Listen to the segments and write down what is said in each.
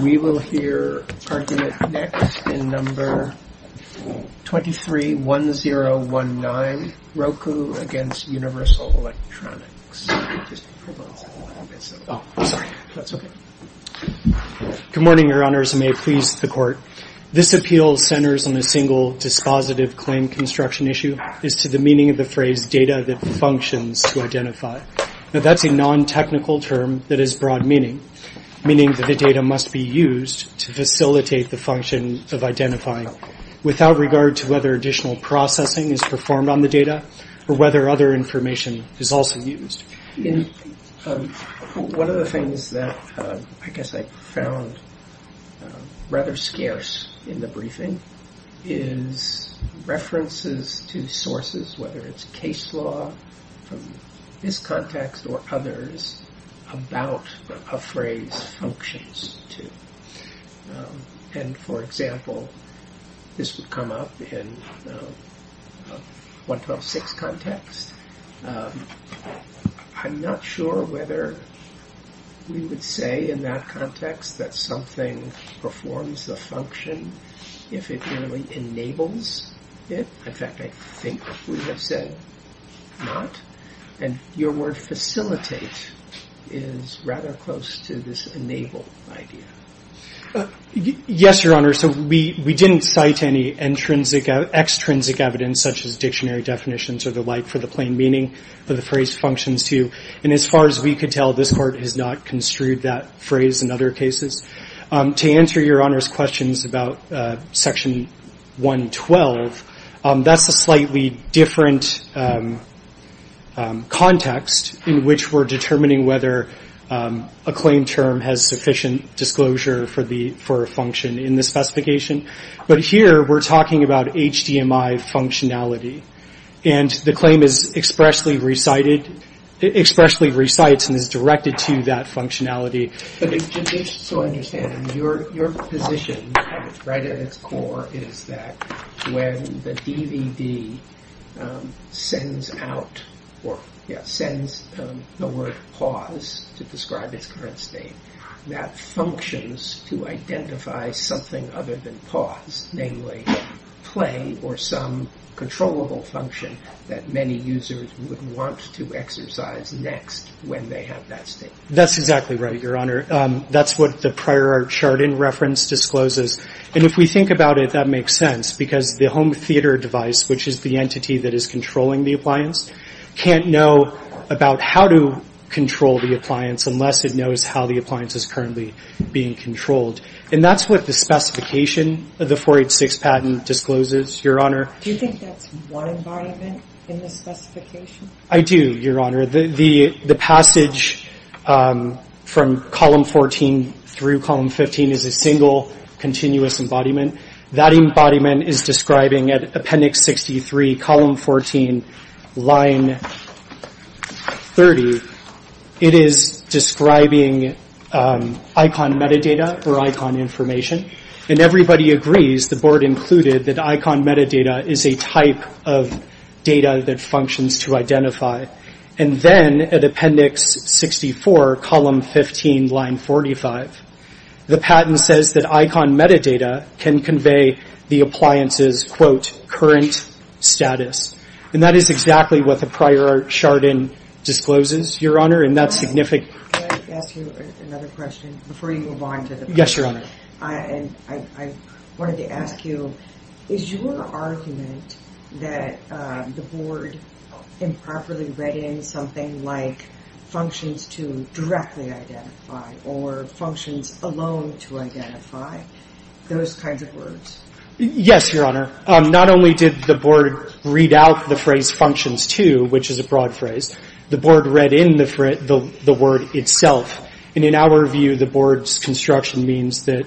We will hear argument next in No. 23-1019, Roku v. Universal Electronics. Good morning, Your Honors, and may it please the Court. This appeal centers on a single dispositive claim construction issue, is to the meaning of the phrase, data that functions to identify. Now that's a non-technical term that has broad meaning, meaning that the data must be used to facilitate the function of identifying without regard to whether additional processing is performed on the data or whether other information is also used. One of the things that I guess I found rather scarce in the briefing is references to sources, whether it's case law from this context or others, about a phrase functions to. For example, this would come up in 1.12.6 context. I'm not sure whether we would say in that context that something performs a function if it really enables it. In fact, I think we have said not. And your word facilitate is rather close to this enable idea. Yes, Your Honor. So we didn't cite any extrinsic evidence, such as dictionary definitions or the like, for the plain meaning that the phrase functions to. And as far as we could tell, this Court has not construed that phrase in other cases. To answer Your Honor's questions about Section 112, that's a slightly different context in which we're determining whether a claim term has sufficient disclosure for a function in the specification. But here we're talking about HDMI functionality. And the claim is expressly recited, expressly recites and is directed to that functionality. But just so I understand, your position right at its core is that when the DVD sends out or sends the word pause to describe its current state, that functions to identify something other than pause, namely play or some controllable function that many users would want to exercise next when they have that state. That's exactly right, Your Honor. That's what the prior chart in reference discloses. And if we think about it, that makes sense because the home theater device, which is the entity that is controlling the appliance, can't know about how to control the appliance unless it knows how the appliance is currently being controlled. And that's what the specification of the 486 patent discloses, Your Honor. Do you think that's one environment in the specification? I do, Your Honor. The passage from column 14 through column 15 is a single continuous embodiment. That embodiment is describing at appendix 63, column 14, line 30, it is describing icon metadata or icon information. And everybody agrees, the board included, that icon metadata is a type of data that functions to identify. And then at appendix 64, column 15, line 45, the patent says that icon metadata can convey the appliance's, quote, current status. And that is exactly what the prior chart in discloses, Your Honor. And that's significant. Can I ask you another question before you move on? Yes, Your Honor. I wanted to ask you, is your argument that the board improperly read in something like functions to directly identify or functions alone to identify, those kinds of words? Yes, Your Honor. Not only did the board read out the phrase functions to, which is a broad phrase, the board read in the word itself. And in our view, the board's construction means that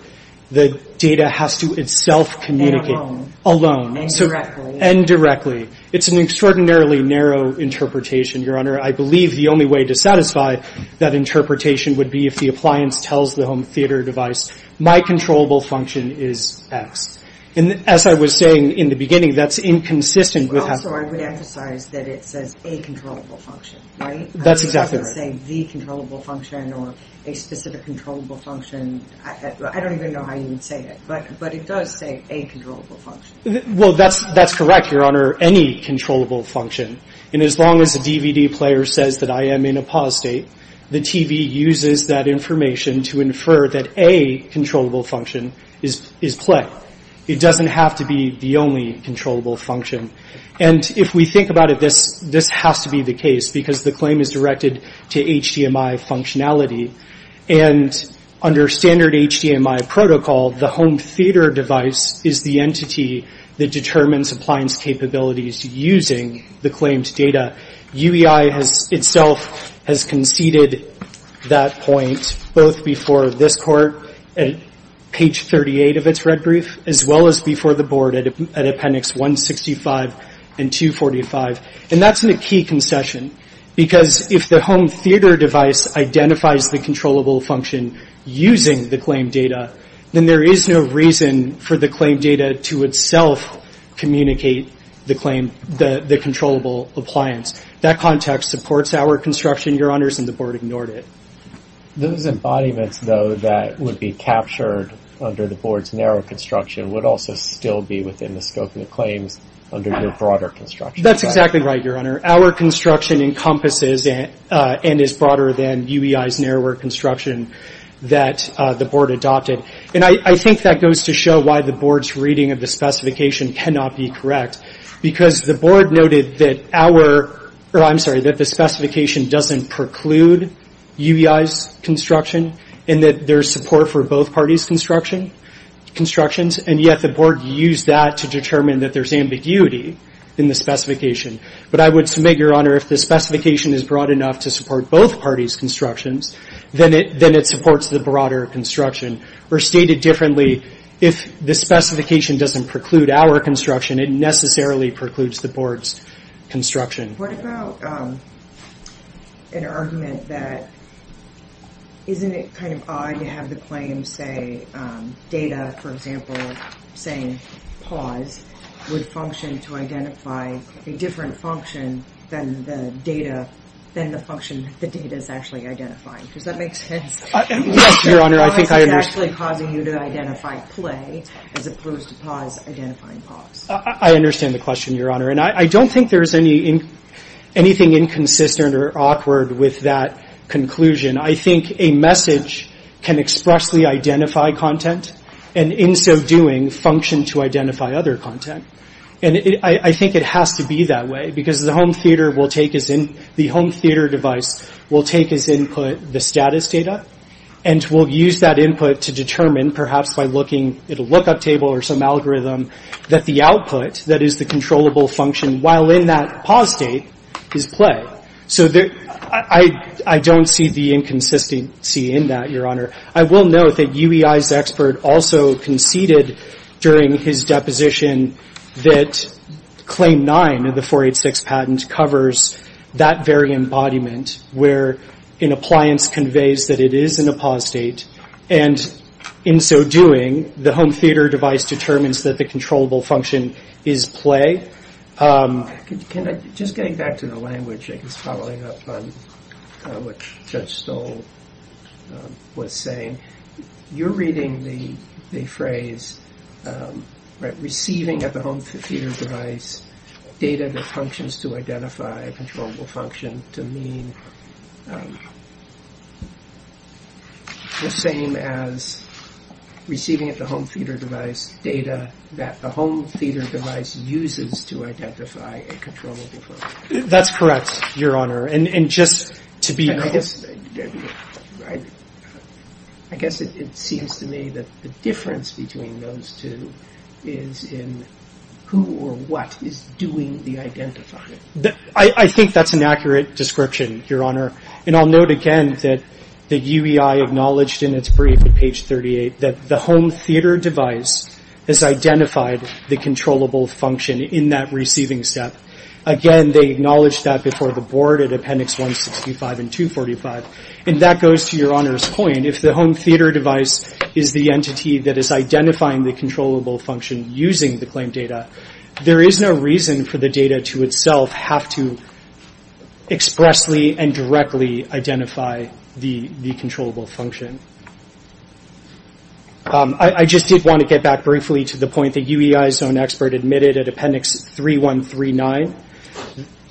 the data has to itself communicate. And alone. Alone. Indirectly. Indirectly. It's an extraordinarily narrow interpretation, Your Honor. I believe the only way to satisfy that interpretation would be if the appliance tells the home theater device, my controllable function is X. And as I was saying in the beginning, that's inconsistent with. Also, I would emphasize that it says a controllable function, right? That's exactly right. It doesn't say the controllable function or a specific controllable function. I don't even know how you would say it. But it does say a controllable function. Well, that's correct, Your Honor. Any controllable function. And as long as the DVD player says that I am in a pause state, the TV uses that information to infer that a controllable function is play. It doesn't have to be the only controllable function. And if we think about it, this has to be the case because the claim is directed to HDMI functionality. And under standard HDMI protocol, the home theater device is the entity that determines appliance capabilities using the claimed data. UEI itself has conceded that point both before this court at page 38 of its red brief, as well as before the board at appendix 165 and 245. And that's a key concession. Because if the home theater device identifies the controllable function using the claimed data, then there is no reason for the claimed data to itself communicate the claim, the controllable appliance. That context supports our construction, Your Honors, and the board ignored it. Those embodiments, though, that would be captured under the board's narrow construction would also still be within the scope of the claims under your broader construction. That's exactly right, Your Honor. Our construction encompasses and is broader than UEI's narrower construction that the board adopted. And I think that goes to show why the board's reading of the specification cannot be correct. Because the board noted that our, or I'm sorry, that the specification doesn't preclude UEI's construction, and that there's support for both parties' construction, constructions, and yet the board used that to determine that there's ambiguity in the specification. But I would submit, Your Honor, if the specification is broad enough to support both parties' constructions, then it supports the broader construction. Or stated differently, if the specification doesn't preclude our construction, it necessarily precludes the board's construction. What about an argument that isn't it kind of odd to have the claim say data, for example, saying pause would function to identify a different function than the data, than the function that the data is actually identifying? Does that make sense? Yes, Your Honor, I think I understand. Especially causing you to identify play, as opposed to pause identifying pause. I understand the question, Your Honor. And I don't think there's anything inconsistent or awkward with that conclusion. I think a message can expressly identify content, and in so doing, function to identify other content. And I think it has to be that way, because the home theater device will take as input the status data, and will use that input to determine, perhaps by looking at a lookup table or some algorithm, that the output that is the controllable function while in that pause state is play. So I don't see the inconsistency in that, Your Honor. I will note that UEI's expert also conceded during his deposition that Claim 9 of the 486 patent covers that very embodiment where an appliance conveys that it is in a pause state, and in so doing, the home theater device determines that the controllable function is play. Just getting back to the language, I guess, following up on what Judge Stoll was saying, you're reading the phrase receiving at the home theater device data that functions to identify a controllable function to mean the same as receiving at the home theater device data that the home theater device uses to identify a controllable function. That's correct, Your Honor. I guess it seems to me that the difference between those two is in who or what is doing the identifying. I think that's an accurate description, Your Honor. And I'll note again that UEI acknowledged in its brief at page 38 that the home theater device has identified the controllable function in that receiving step. Again, they acknowledged that before the board at Appendix 165 and 245. And that goes to Your Honor's point. If the home theater device is the entity that is identifying the controllable function using the claim data, there is no reason for the data to itself have to expressly and directly identify the controllable function. I just did want to get back briefly to the point that UEI's own expert admitted at Appendix 3139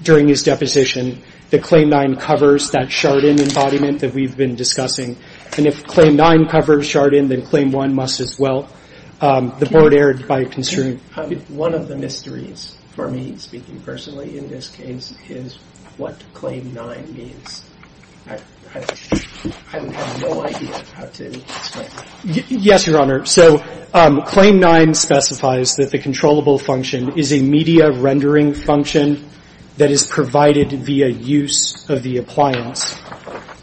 during his deposition that Claim 9 covers that Chardon embodiment that we've been discussing. And if Claim 9 covers Chardon, then Claim 1 must as well. The board erred by considering... One of the mysteries for me, speaking personally in this case, is what Claim 9 means. I have no idea how to explain it. Yes, Your Honor. So Claim 9 specifies that the controllable function is a media rendering function that is provided via use of the appliance.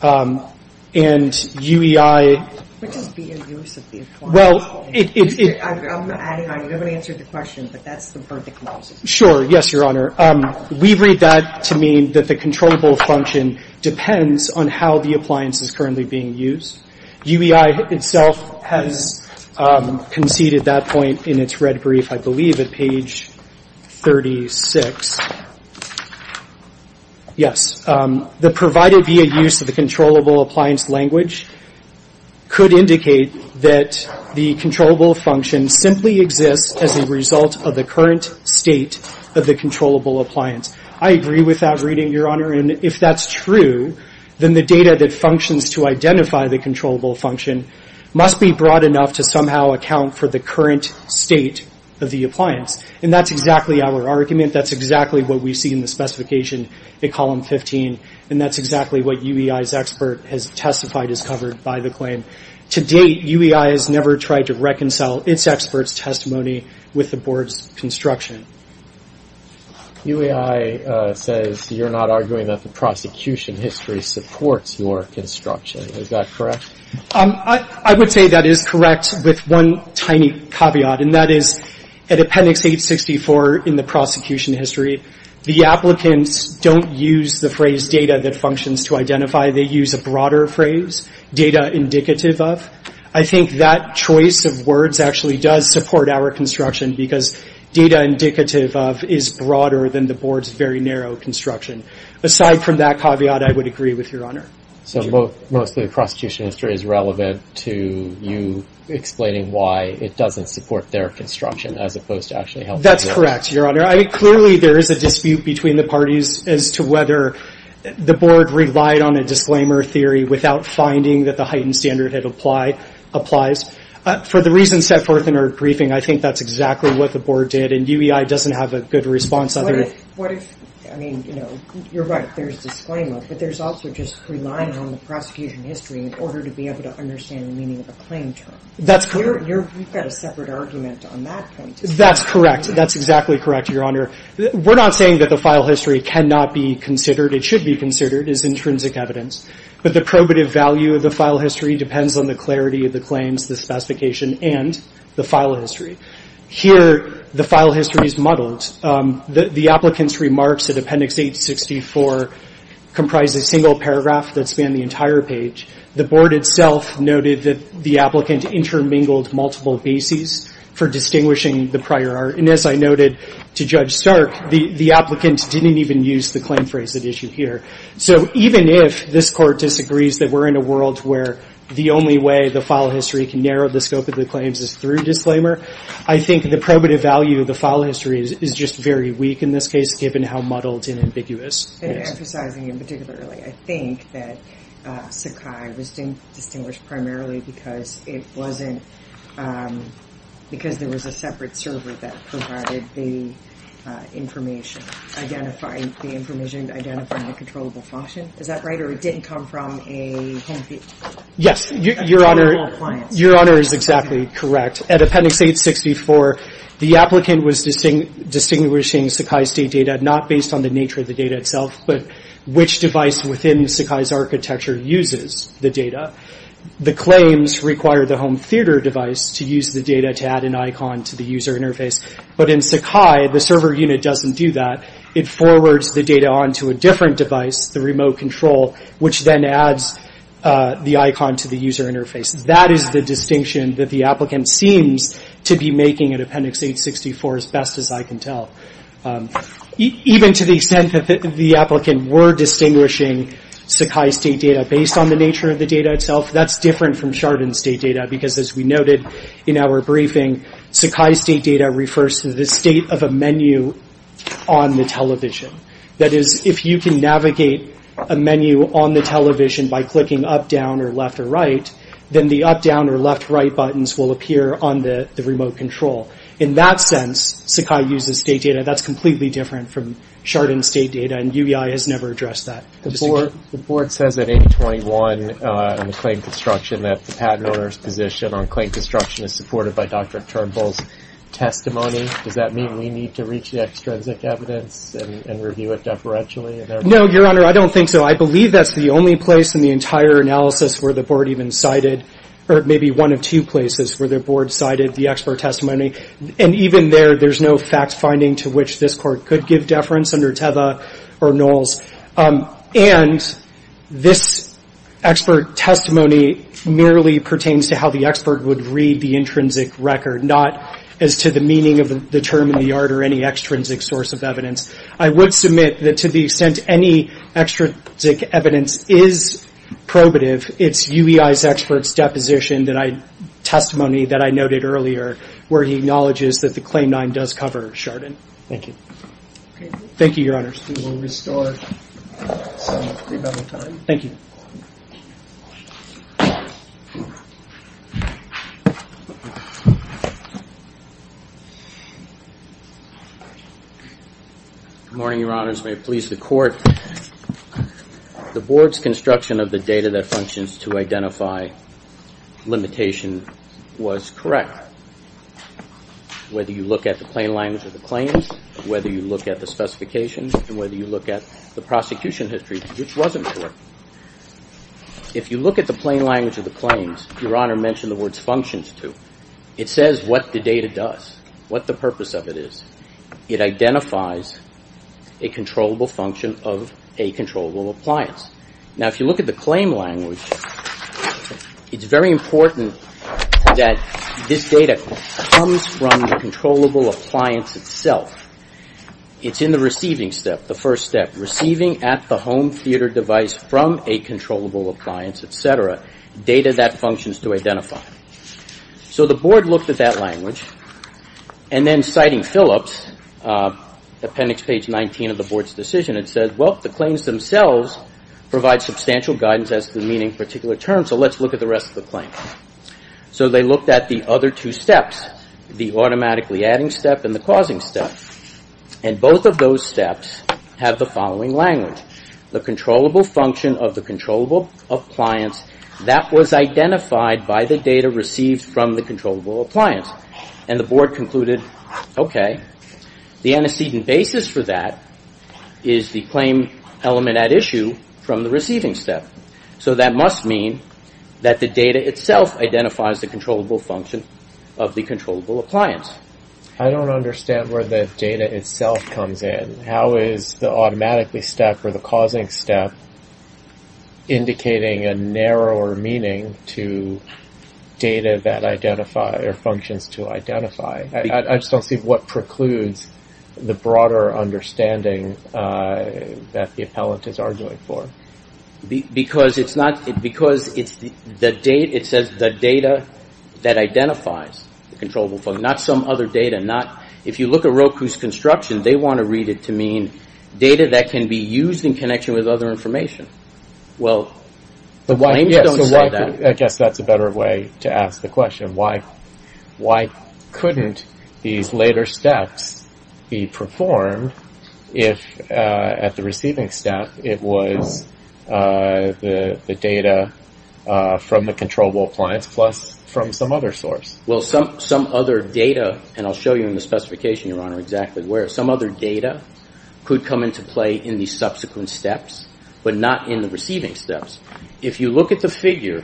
And UEI... What does via use of the appliance mean? Well, it... I'm adding on. You haven't answered the question, but that's the word that closes it. Sure. Yes, Your Honor. We read that to mean that the controllable function depends on how the appliance is currently being used. UEI itself has conceded that point in its red brief, I believe, at page 36. Yes. The provided via use of the controllable appliance language could indicate that the controllable function simply exists as a result of the current state of the controllable appliance. I agree with that reading, Your Honor. And if that's true, then the data that functions to identify the controllable function must be broad enough to somehow account for the current state of the appliance. And that's exactly our argument. That's exactly what we see in the specification in Column 15. And that's exactly what UEI's expert has testified is covered by the claim. To date, UEI has never tried to reconcile its expert's testimony with the Board's construction. UEI says you're not arguing that the prosecution history supports your construction. Is that correct? I would say that is correct with one tiny caveat. And that is at Appendix 864 in the prosecution history, the applicants don't use the phrase data that functions to identify. They use a broader phrase, data indicative of. I think that choice of words actually does support our construction because data indicative of is broader than the Board's very narrow construction. Aside from that caveat, I would agree with Your Honor. So mostly the prosecution history is relevant to you explaining why it doesn't support their construction as opposed to actually helping us. That's correct, Your Honor. I mean, clearly there is a dispute between the parties as to whether the Board relied on a disclaimer theory without finding that the heightened standard applies. For the reasons set forth in our briefing, I think that's exactly what the Board did. And UEI doesn't have a good response. I mean, you're right, there's disclaimer. But there's also just relying on the prosecution history in order to be able to understand the meaning of a claim term. That's correct. You've got a separate argument on that point. That's correct. That's exactly correct, Your Honor. We're not saying that the file history cannot be considered. It should be considered as intrinsic evidence. But the probative value of the file history depends on the clarity of the claims, the specification, and the file history. Here, the file history is muddled. The applicant's remarks at Appendix 864 comprise a single paragraph that spans the entire page. The Board itself noted that the applicant intermingled multiple bases for distinguishing the prior. And as I noted to Judge Stark, the applicant didn't even use the claim phrase at issue here. So even if this Court disagrees that we're in a world where the only way the file history can narrow the scope of the claims is through disclaimer, I think the probative value of the file history is just very weak in this case, given how muddled and ambiguous it is. And emphasizing in particular, I think that Sakai was distinguished primarily because there was a separate server that provided the information, identifying the information, identifying the controllable function. Is that right? Or it didn't come from a home theater? Yes. Your Honor is exactly correct. At Appendix 864, the applicant was distinguishing Sakai State data not based on the nature of the data itself, but which device within Sakai's architecture uses the data. The claims require the home theater device to use the data to add an icon to the user interface. But in Sakai, the server unit doesn't do that. It forwards the data onto a different device, the remote control, which then adds the icon to the user interface. That is the distinction that the applicant seems to be making at Appendix 864, as best as I can tell. Even to the extent that the applicant were distinguishing Sakai State data based on the nature of the data itself, that's different from Chardon State data because, as we noted in our briefing, Sakai State data refers to the state of a menu on the television. That is, if you can navigate a menu on the television by clicking up, down, or left, or right, then the up, down, or left, right buttons will appear on the remote control. In that sense, Sakai uses State data. That's completely different from Chardon State data, and UEI has never addressed that. The board says at 821 in the claim construction that the patent owner's position on claim construction is supported by Dr. Turnbull's testimony. Does that mean we need to reach the extrinsic evidence and review it deferentially? No, Your Honor, I don't think so. I believe that's the only place in the entire analysis where the board even cited, or maybe one of two places where the board cited the expert testimony. And even there, there's no fact finding to which this court could give deference under Teva or Knowles. And this expert testimony merely pertains to how the expert would read the intrinsic record, not as to the meaning of the term in the art or any extrinsic source of evidence. I would submit that to the extent any extrinsic evidence is probative, it's UEI's expert's deposition testimony that I noted earlier where he acknowledges that the Claim 9 does cover Chardon. Thank you. Thank you, Your Honors. We will restore some of the time. Thank you. May it please the Court. The board's construction of the data that functions to identify limitation was correct, whether you look at the plain language of the claims, whether you look at the specifications, and whether you look at the prosecution history, which wasn't correct. If you look at the plain language of the claims, Your Honor mentioned the words functions to. It says what the data does, what the purpose of it is. It identifies a controllable function of a controllable appliance. Now, if you look at the claim language, it's very important that this data comes from the controllable appliance itself. It's in the receiving step, the first step, receiving at the home theater device from a controllable appliance, et cetera, data that functions to identify. So the board looked at that language, and then citing Phillips, appendix page 19 of the board's decision, it says, well, the claims themselves provide substantial guidance as to the meaning of particular terms, so let's look at the rest of the claim. So they looked at the other two steps, the automatically adding step and the causing step, and both of those steps have the following language, the controllable function of the controllable appliance that was identified by the data received from the controllable appliance. And the board concluded, okay, the antecedent basis for that is the claim element at issue from the receiving step. So that must mean that the data itself identifies the controllable function of the controllable appliance. I don't understand where the data itself comes in. How is the automatically step or the causing step indicating a narrower meaning to data that identify or functions to identify? I just don't see what precludes the broader understanding that the appellant is arguing for. Because it's not, because it's the data, it says the data that identifies the controllable function, not some other data, not, if you look at Roku's construction, they want to read it to mean data that can be used in connection with other information. Well, the claims don't say that. I guess that's a better way to ask the question. Why couldn't these later steps be performed if at the receiving step it was the data from the controllable appliance plus from some other source? Well, some other data, and I'll show you in the specification, Your Honor, exactly where. Some other data could come into play in the subsequent steps, but not in the receiving steps. If you look at the figure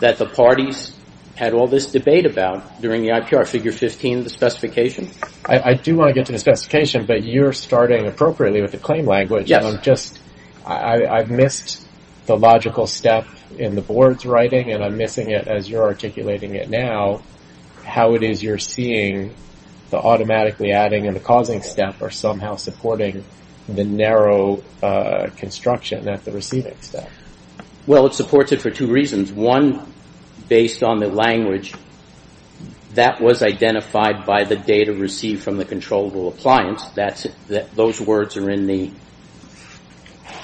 that the parties had all this debate about during the IPR, figure 15, the specification. I do want to get to the specification, but you're starting appropriately with the claim language. Yes. I've missed the logical step in the board's writing, and I'm missing it as you're articulating it now, how it is you're seeing the automatically adding and the causing step are somehow supporting the narrow construction at the receiving step. Well, it supports it for two reasons. One, based on the language that was identified by the data received from the controllable appliance, those words are in the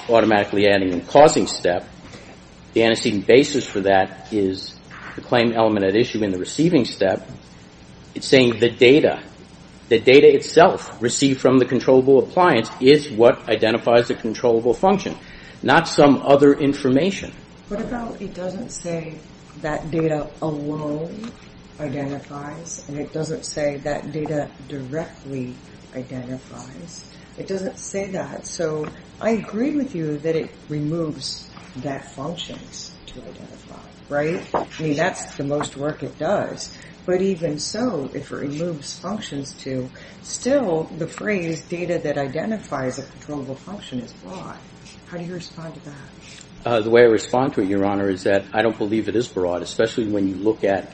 automatically adding and causing step. The antecedent basis for that is the claim element at issue in the receiving step. It's saying the data, the data itself received from the controllable appliance is what identifies the controllable function, not some other information. What about it doesn't say that data alone identifies, and it doesn't say that data directly identifies? It doesn't say that. So I agree with you that it removes that functions to identify, right? I mean, that's the most work it does. But even so, if it removes functions to, still the phrase data that identifies a controllable function is flawed. How do you respond to that? The way I respond to it, Your Honor, is that I don't believe it is broad, especially when you look at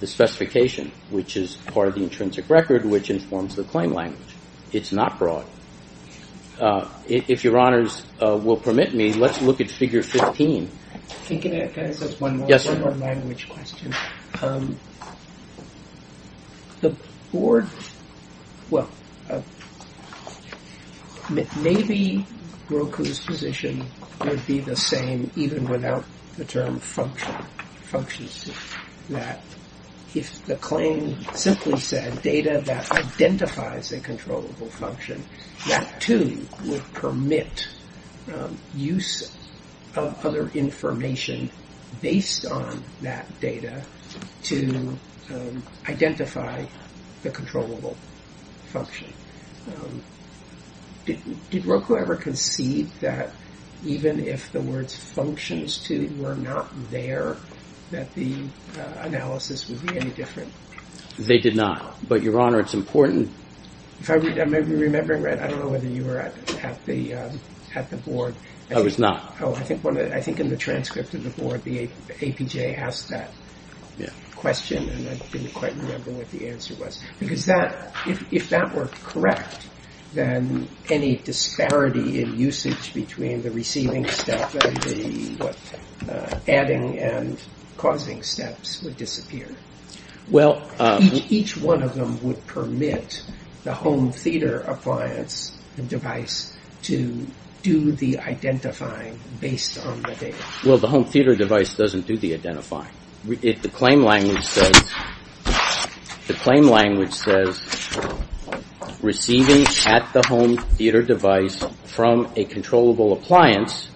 the specification, which is part of the intrinsic record, which informs the claim language. It's not broad. If Your Honors will permit me, let's look at figure 15. Can I ask one more language question? The board, well, maybe Roku's position would be the same even without the term function. If the claim simply said data that identifies a controllable function, that, too, would permit use of other information based on that data to identify the controllable function. Did Roku ever concede that even if the words functions to were not there, that the analysis would be any different? They did not. But, Your Honor, it's important. If I may be remembering right, I don't know whether you were at the board. I was not. I think in the transcript of the board, the APJ asked that question, and I didn't quite remember what the answer was. Because if that were correct, then any disparity in usage between the receiving step and the adding and causing steps would disappear. Each one of them would permit the home theater appliance and device to do the identifying based on the data. Well, the home theater device doesn't do the identifying. The claim language says receiving at the home theater device from a controllable appliance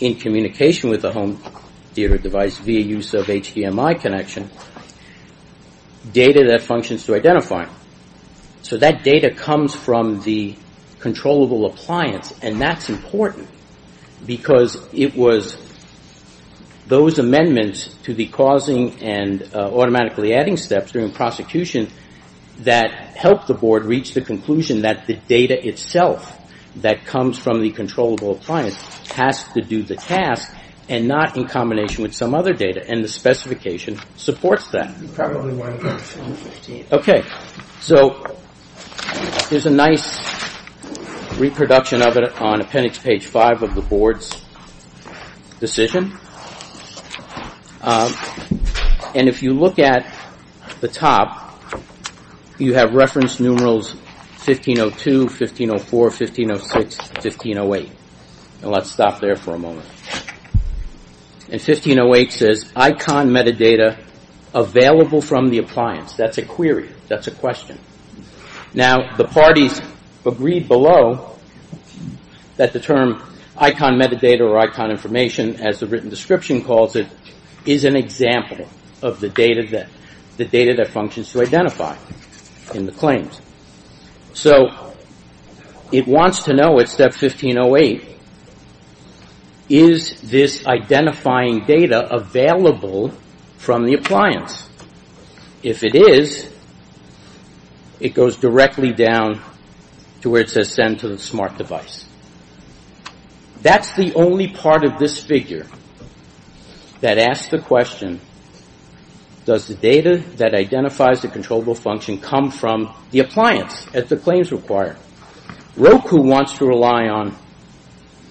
in communication with the home theater device via use of HDMI connection, data that functions to identify. So that data comes from the controllable appliance, and that's important. Because it was those amendments to the causing and automatically adding steps during prosecution that helped the board reach the conclusion that the data itself that comes from the controllable appliance has to do the task, and not in combination with some other data. And the specification supports that. Okay. Okay. So there's a nice reproduction of it on appendix page five of the board's decision. And if you look at the top, you have reference numerals 1502, 1504, 1506, 1508. And let's stop there for a moment. And 1508 says icon metadata available from the appliance. That's a query. That's a question. Now, the parties agreed below that the term icon metadata or icon information, as the written description calls it, is an example of the data that functions to identify in the claims. So it wants to know at step 1508, is this identifying data available from the appliance? If it is, it goes directly down to where it says send to the smart device. That's the only part of this figure that asks the question, does the data that identifies the controllable function come from the appliance as the claims require? Roku wants to rely on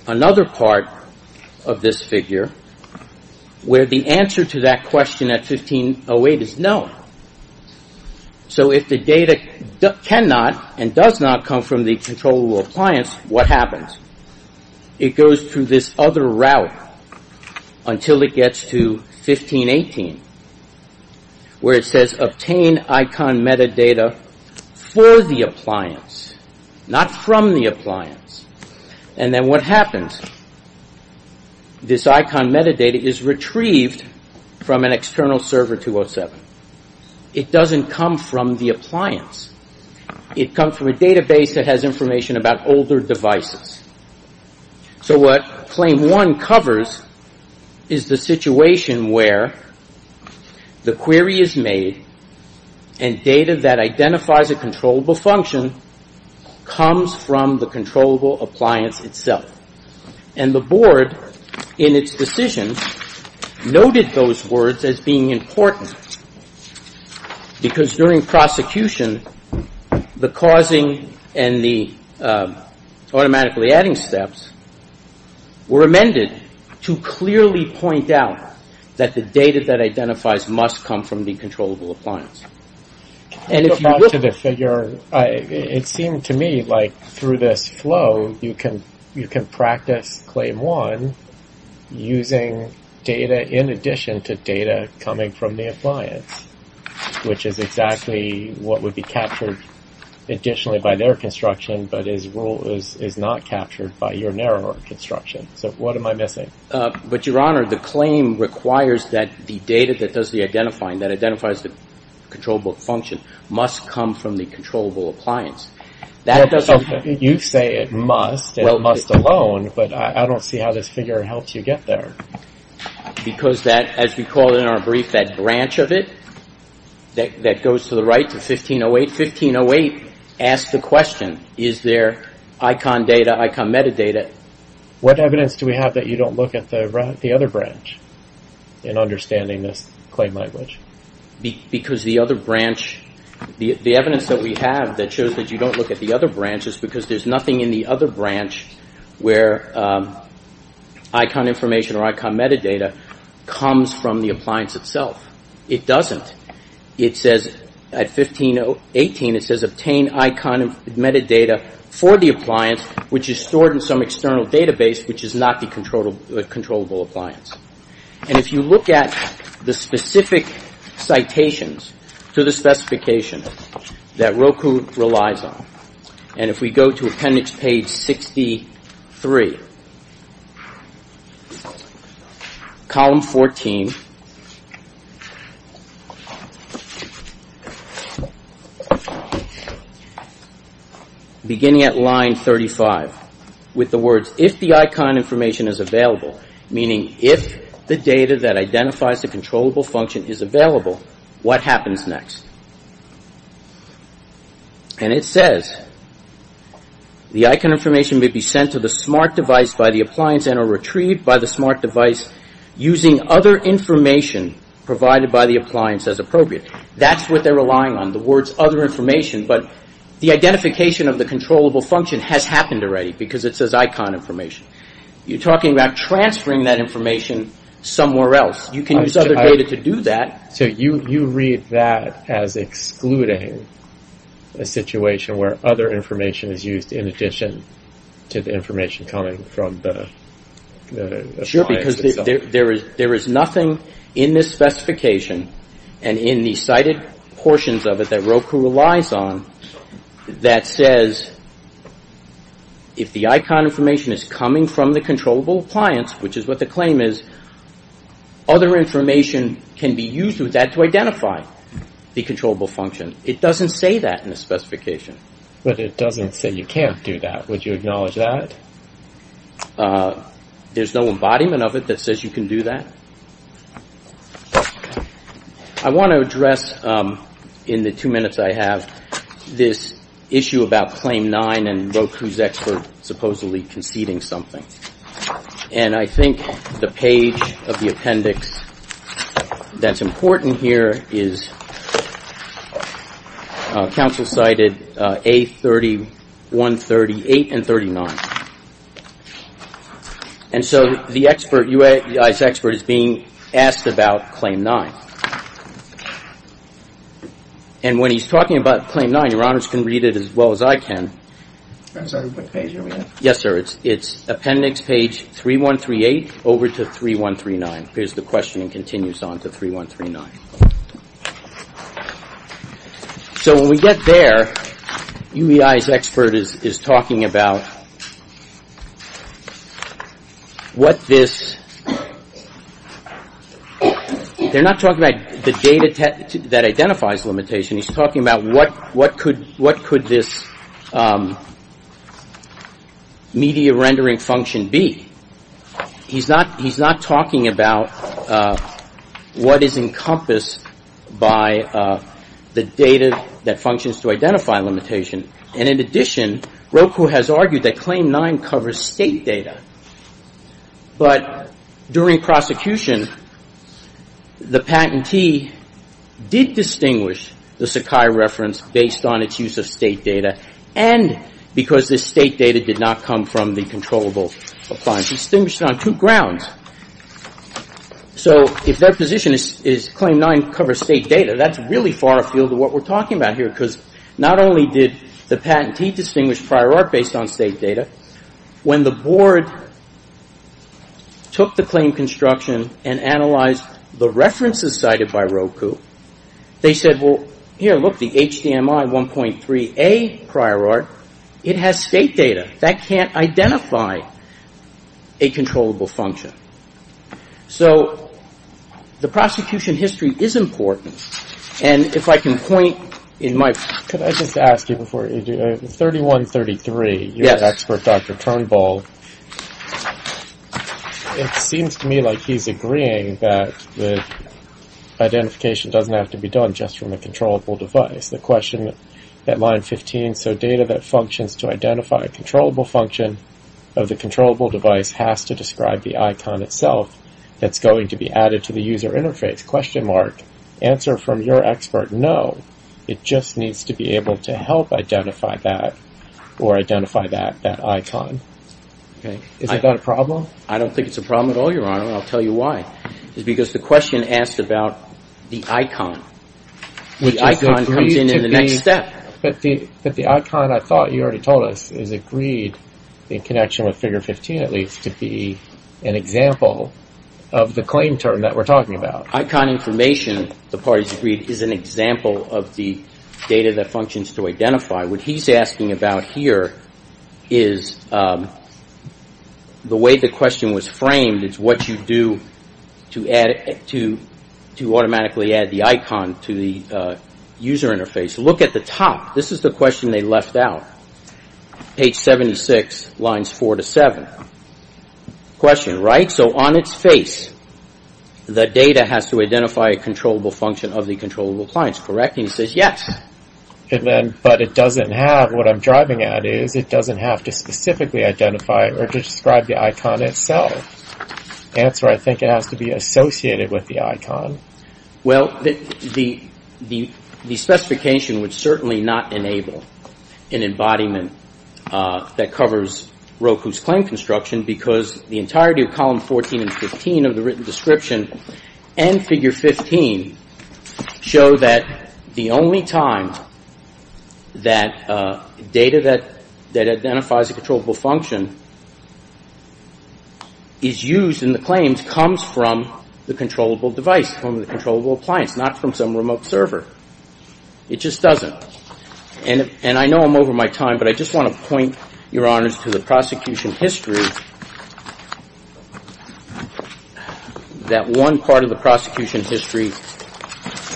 another part of this figure where the answer to that question at 1508 is no. So if the data cannot and does not come from the controllable appliance, what happens? It goes through this other route until it gets to 1518 where it says obtain icon metadata for the appliance, not from the appliance. And then what happens? This icon metadata is retrieved from an external server 207. It comes from a database that has information about older devices. So what Claim 1 covers is the situation where the query is made and data that identifies a controllable function comes from the controllable appliance itself. And the board in its decision noted those words as being important because during prosecution, the causing and the automatically adding steps were amended to clearly point out that the data that identifies must come from the controllable appliance. And if you look at the figure, it seemed to me like through this flow, you can you can practice Claim 1 using data in addition to data coming from the appliance, which is exactly what would be captured additionally by their construction. But his rule is is not captured by your narrower construction. So what am I missing? But Your Honor, the claim requires that the data that does the identifying, that identifies the controllable function, must come from the controllable appliance. You say it must. It must alone. But I don't see how this figure helps you get there. Because that, as we call it in our brief, that branch of it that goes to the right to 1508. 1508 asks the question, is there icon data, icon metadata? What evidence do we have that you don't look at the other branch in understanding this claim language? Because the other branch, the evidence that we have that shows that you don't look at the other branches because there's nothing in the other branch where icon information or icon metadata comes from the appliance itself. It doesn't. It says at 1518, it says obtain icon metadata for the appliance, which is stored in some external database which is not the controllable appliance. And if you look at the specific citations to the specification that Roku relies on, and if we go to appendix page 63, column 14, beginning at line 35, with the words, if the icon information is available, meaning if the data that identifies the controllable function is available, what happens next? And it says the icon information may be sent to the smart device by the appliance and or retrieved by the smart device using other information provided by the appliance as appropriate. That's what they're relying on, the words other information. But the identification of the controllable function has happened already because it says icon information. You're talking about transferring that information somewhere else. You can use other data to do that. So you read that as excluding a situation where other information is used in addition to the information coming from the appliance. Sure, because there is nothing in this specification and in the cited portions of it that Roku relies on that says if the icon information is coming from the controllable appliance, which is what the claim is, other information can be used with that to identify the controllable function. It doesn't say that in the specification. But it doesn't say you can't do that. Would you acknowledge that? There's no embodiment of it that says you can do that. I want to address, in the two minutes I have, this issue about claim nine and Roku's expert supposedly conceding something. And I think the page of the appendix that's important here is counsel cited A31, 38, and 39. And so the expert, UI's expert, is being asked about claim nine. And when he's talking about claim nine, your honors can read it as well as I can. I'm sorry, what page are we at? Yes, sir, it's appendix page 3138 over to 3139. Here's the question and continues on to 3139. So when we get there, UI's expert is talking about what this, they're not talking about the data that identifies limitation. He's talking about what could this media rendering function be. He's not talking about what is encompassed by the data that functions to identify limitation. And in addition, Roku has argued that claim nine covers state data. But during prosecution, the patentee did distinguish the Sakai reference based on its use of state data, and because this state data did not come from the controllable appliance. He distinguished it on two grounds. So if that position is claim nine covers state data, that's really far afield of what we're talking about here, because not only did the patentee distinguish prior art based on state data, when the board took the claim construction and analyzed the references cited by Roku, they said, well, here, look, the HDMI 1.3a prior art, it has state data. That can't identify a controllable function. So the prosecution history is important. And if I can point in my... Could I just ask you before you do, 3133, you're an expert, Dr. Turnbull. It seems to me like he's agreeing that the identification doesn't have to be done just from a controllable device. The question at line 15, so data that functions to identify a controllable function of the controllable device has to describe the icon itself that's going to be added to the user interface? Answer from your expert, no. It just needs to be able to help identify that or identify that icon. Is that a problem? I don't think it's a problem at all, Your Honor, and I'll tell you why. It's because the question asked about the icon. The icon comes in in the next step. But the icon, I thought you already told us, is agreed in connection with figure 15 at least, to be an example of the claim term that we're talking about. The icon information, the parties agreed, is an example of the data that functions to identify. What he's asking about here is the way the question was framed, it's what you do to automatically add the icon to the user interface. Look at the top. This is the question they left out, page 76, lines 4 to 7. Question, right? So on its face, the data has to identify a controllable function of the controllable appliance, correct? And he says yes. But it doesn't have, what I'm driving at is it doesn't have to specifically identify or describe the icon itself. Answer, I think it has to be associated with the icon. Well, the specification would certainly not enable an embodiment that covers Roku's claim construction because the entirety of column 14 and 15 of the written description and figure 15 show that the only time that data that identifies a controllable function is used in the claims comes from the controllable device, from the controllable appliance, not from some remote server. It just doesn't. And I know I'm over my time, but I just want to point, Your Honors, to the prosecution history, that one part of the prosecution history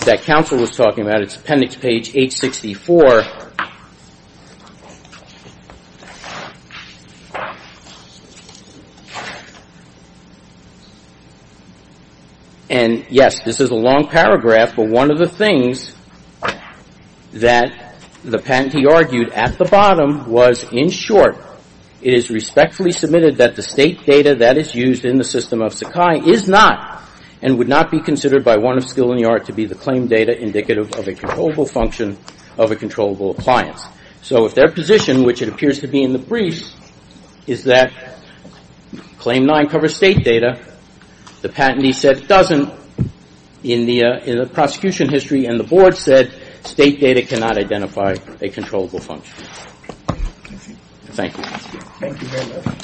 that counsel was talking about. It's appendix page 864. And yes, this is a long paragraph, but one of the things that the patentee argued at the bottom was in short, it is respectfully submitted that the state data that is used in the system of Sakai is not and would not be considered by one of skill in the art to be the claim data indicative of a controllable function of a controllable appliance. So if their position, which it appears to be in the brief, is that claim 9 covers state data, the patentee said it doesn't in the prosecution history, and the board said state data cannot identify a controllable function. Thank you. Thank you very much.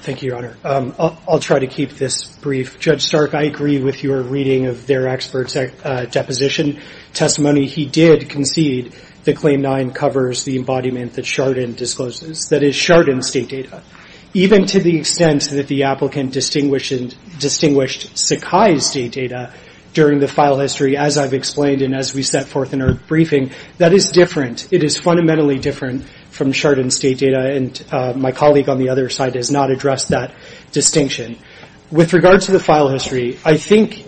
Thank you, Your Honor. I'll try to keep this brief. Judge Stark, I agree with your reading of their expert deposition testimony. He did concede that claim 9 covers the embodiment that Chardon discloses, that is, Chardon's state data. Even to the extent that the applicant distinguished Sakai's state data during the file history, as I've explained and as we set forth in our briefing, that is different. It is fundamentally different from Chardon's state data, and my colleague on the other side has not addressed that distinction. With regard to the file history, I think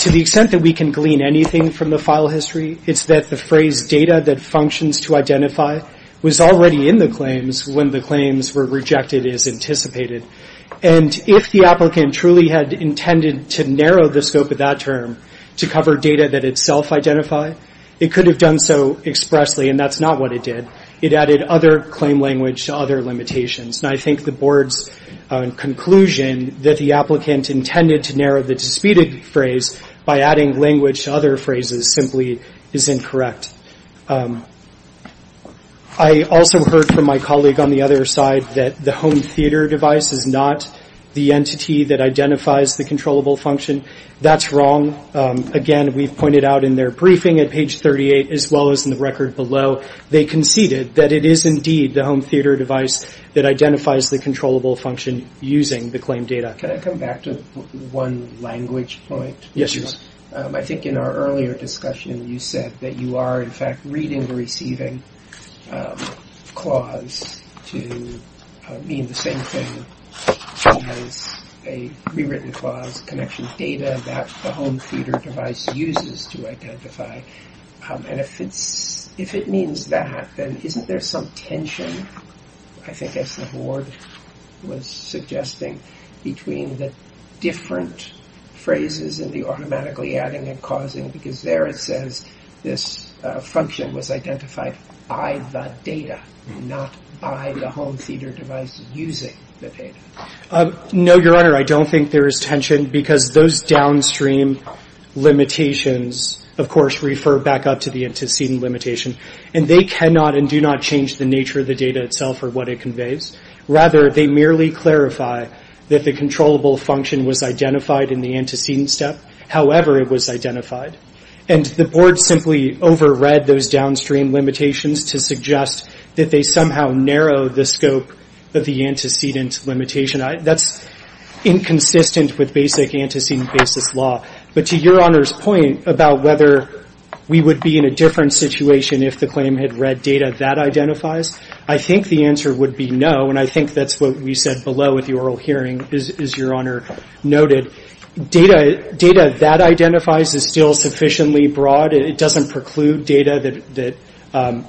to the extent that we can glean anything from the file history, it's that the phrase data that functions to identify was already in the claims when the claims were rejected as anticipated. And if the applicant truly had intended to narrow the scope of that term to cover data that itself identified, it could have done so expressly, and that's not what it did. It added other claim language to other limitations, and I think the board's conclusion that the applicant intended to narrow the disputed phrase by adding language to other phrases simply is incorrect. I also heard from my colleague on the other side that the home theater device is not the entity that identifies the controllable function. That's wrong. Again, we've pointed out in their briefing at page 38, as well as in the record below, they conceded that it is indeed the home theater device that identifies the controllable function using the claimed data. Can I come back to one language point? Yes, please. I think in our earlier discussion you said that you are, in fact, reading the receiving clause to mean the same thing as a rewritten clause connection data that the home theater device uses to identify. And if it means that, then isn't there some tension, I think as the board was suggesting, between the different phrases and the automatically adding and causing, because there it says this function was identified by the data, not by the home theater device using the data. No, Your Honor. I don't think there is tension because those downstream limitations, of course, refer back up to the antecedent limitation. And they cannot and do not change the nature of the data itself or what it conveys. Rather, they merely clarify that the controllable function was identified in the antecedent step, however it was identified. And the board simply overread those downstream limitations to suggest that they somehow narrow the scope of the antecedent limitation. That's inconsistent with basic antecedent basis law. But to Your Honor's point about whether we would be in a different situation if the claim had read data that identifies, I think the answer would be no. And I think that's what we said below at the oral hearing, as Your Honor noted. Data that identifies is still sufficiently broad. It doesn't preclude data that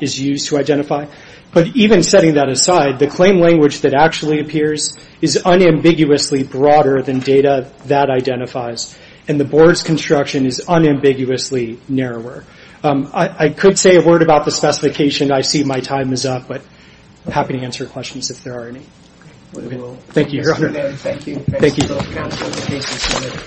is used to identify. But even setting that aside, the claim language that actually appears is unambiguously broader than data that identifies. And the board's construction is unambiguously narrower. I could say a word about the specification. I see my time is up, but I'm happy to answer questions if there are any. Thank you, Your Honor. Thank you.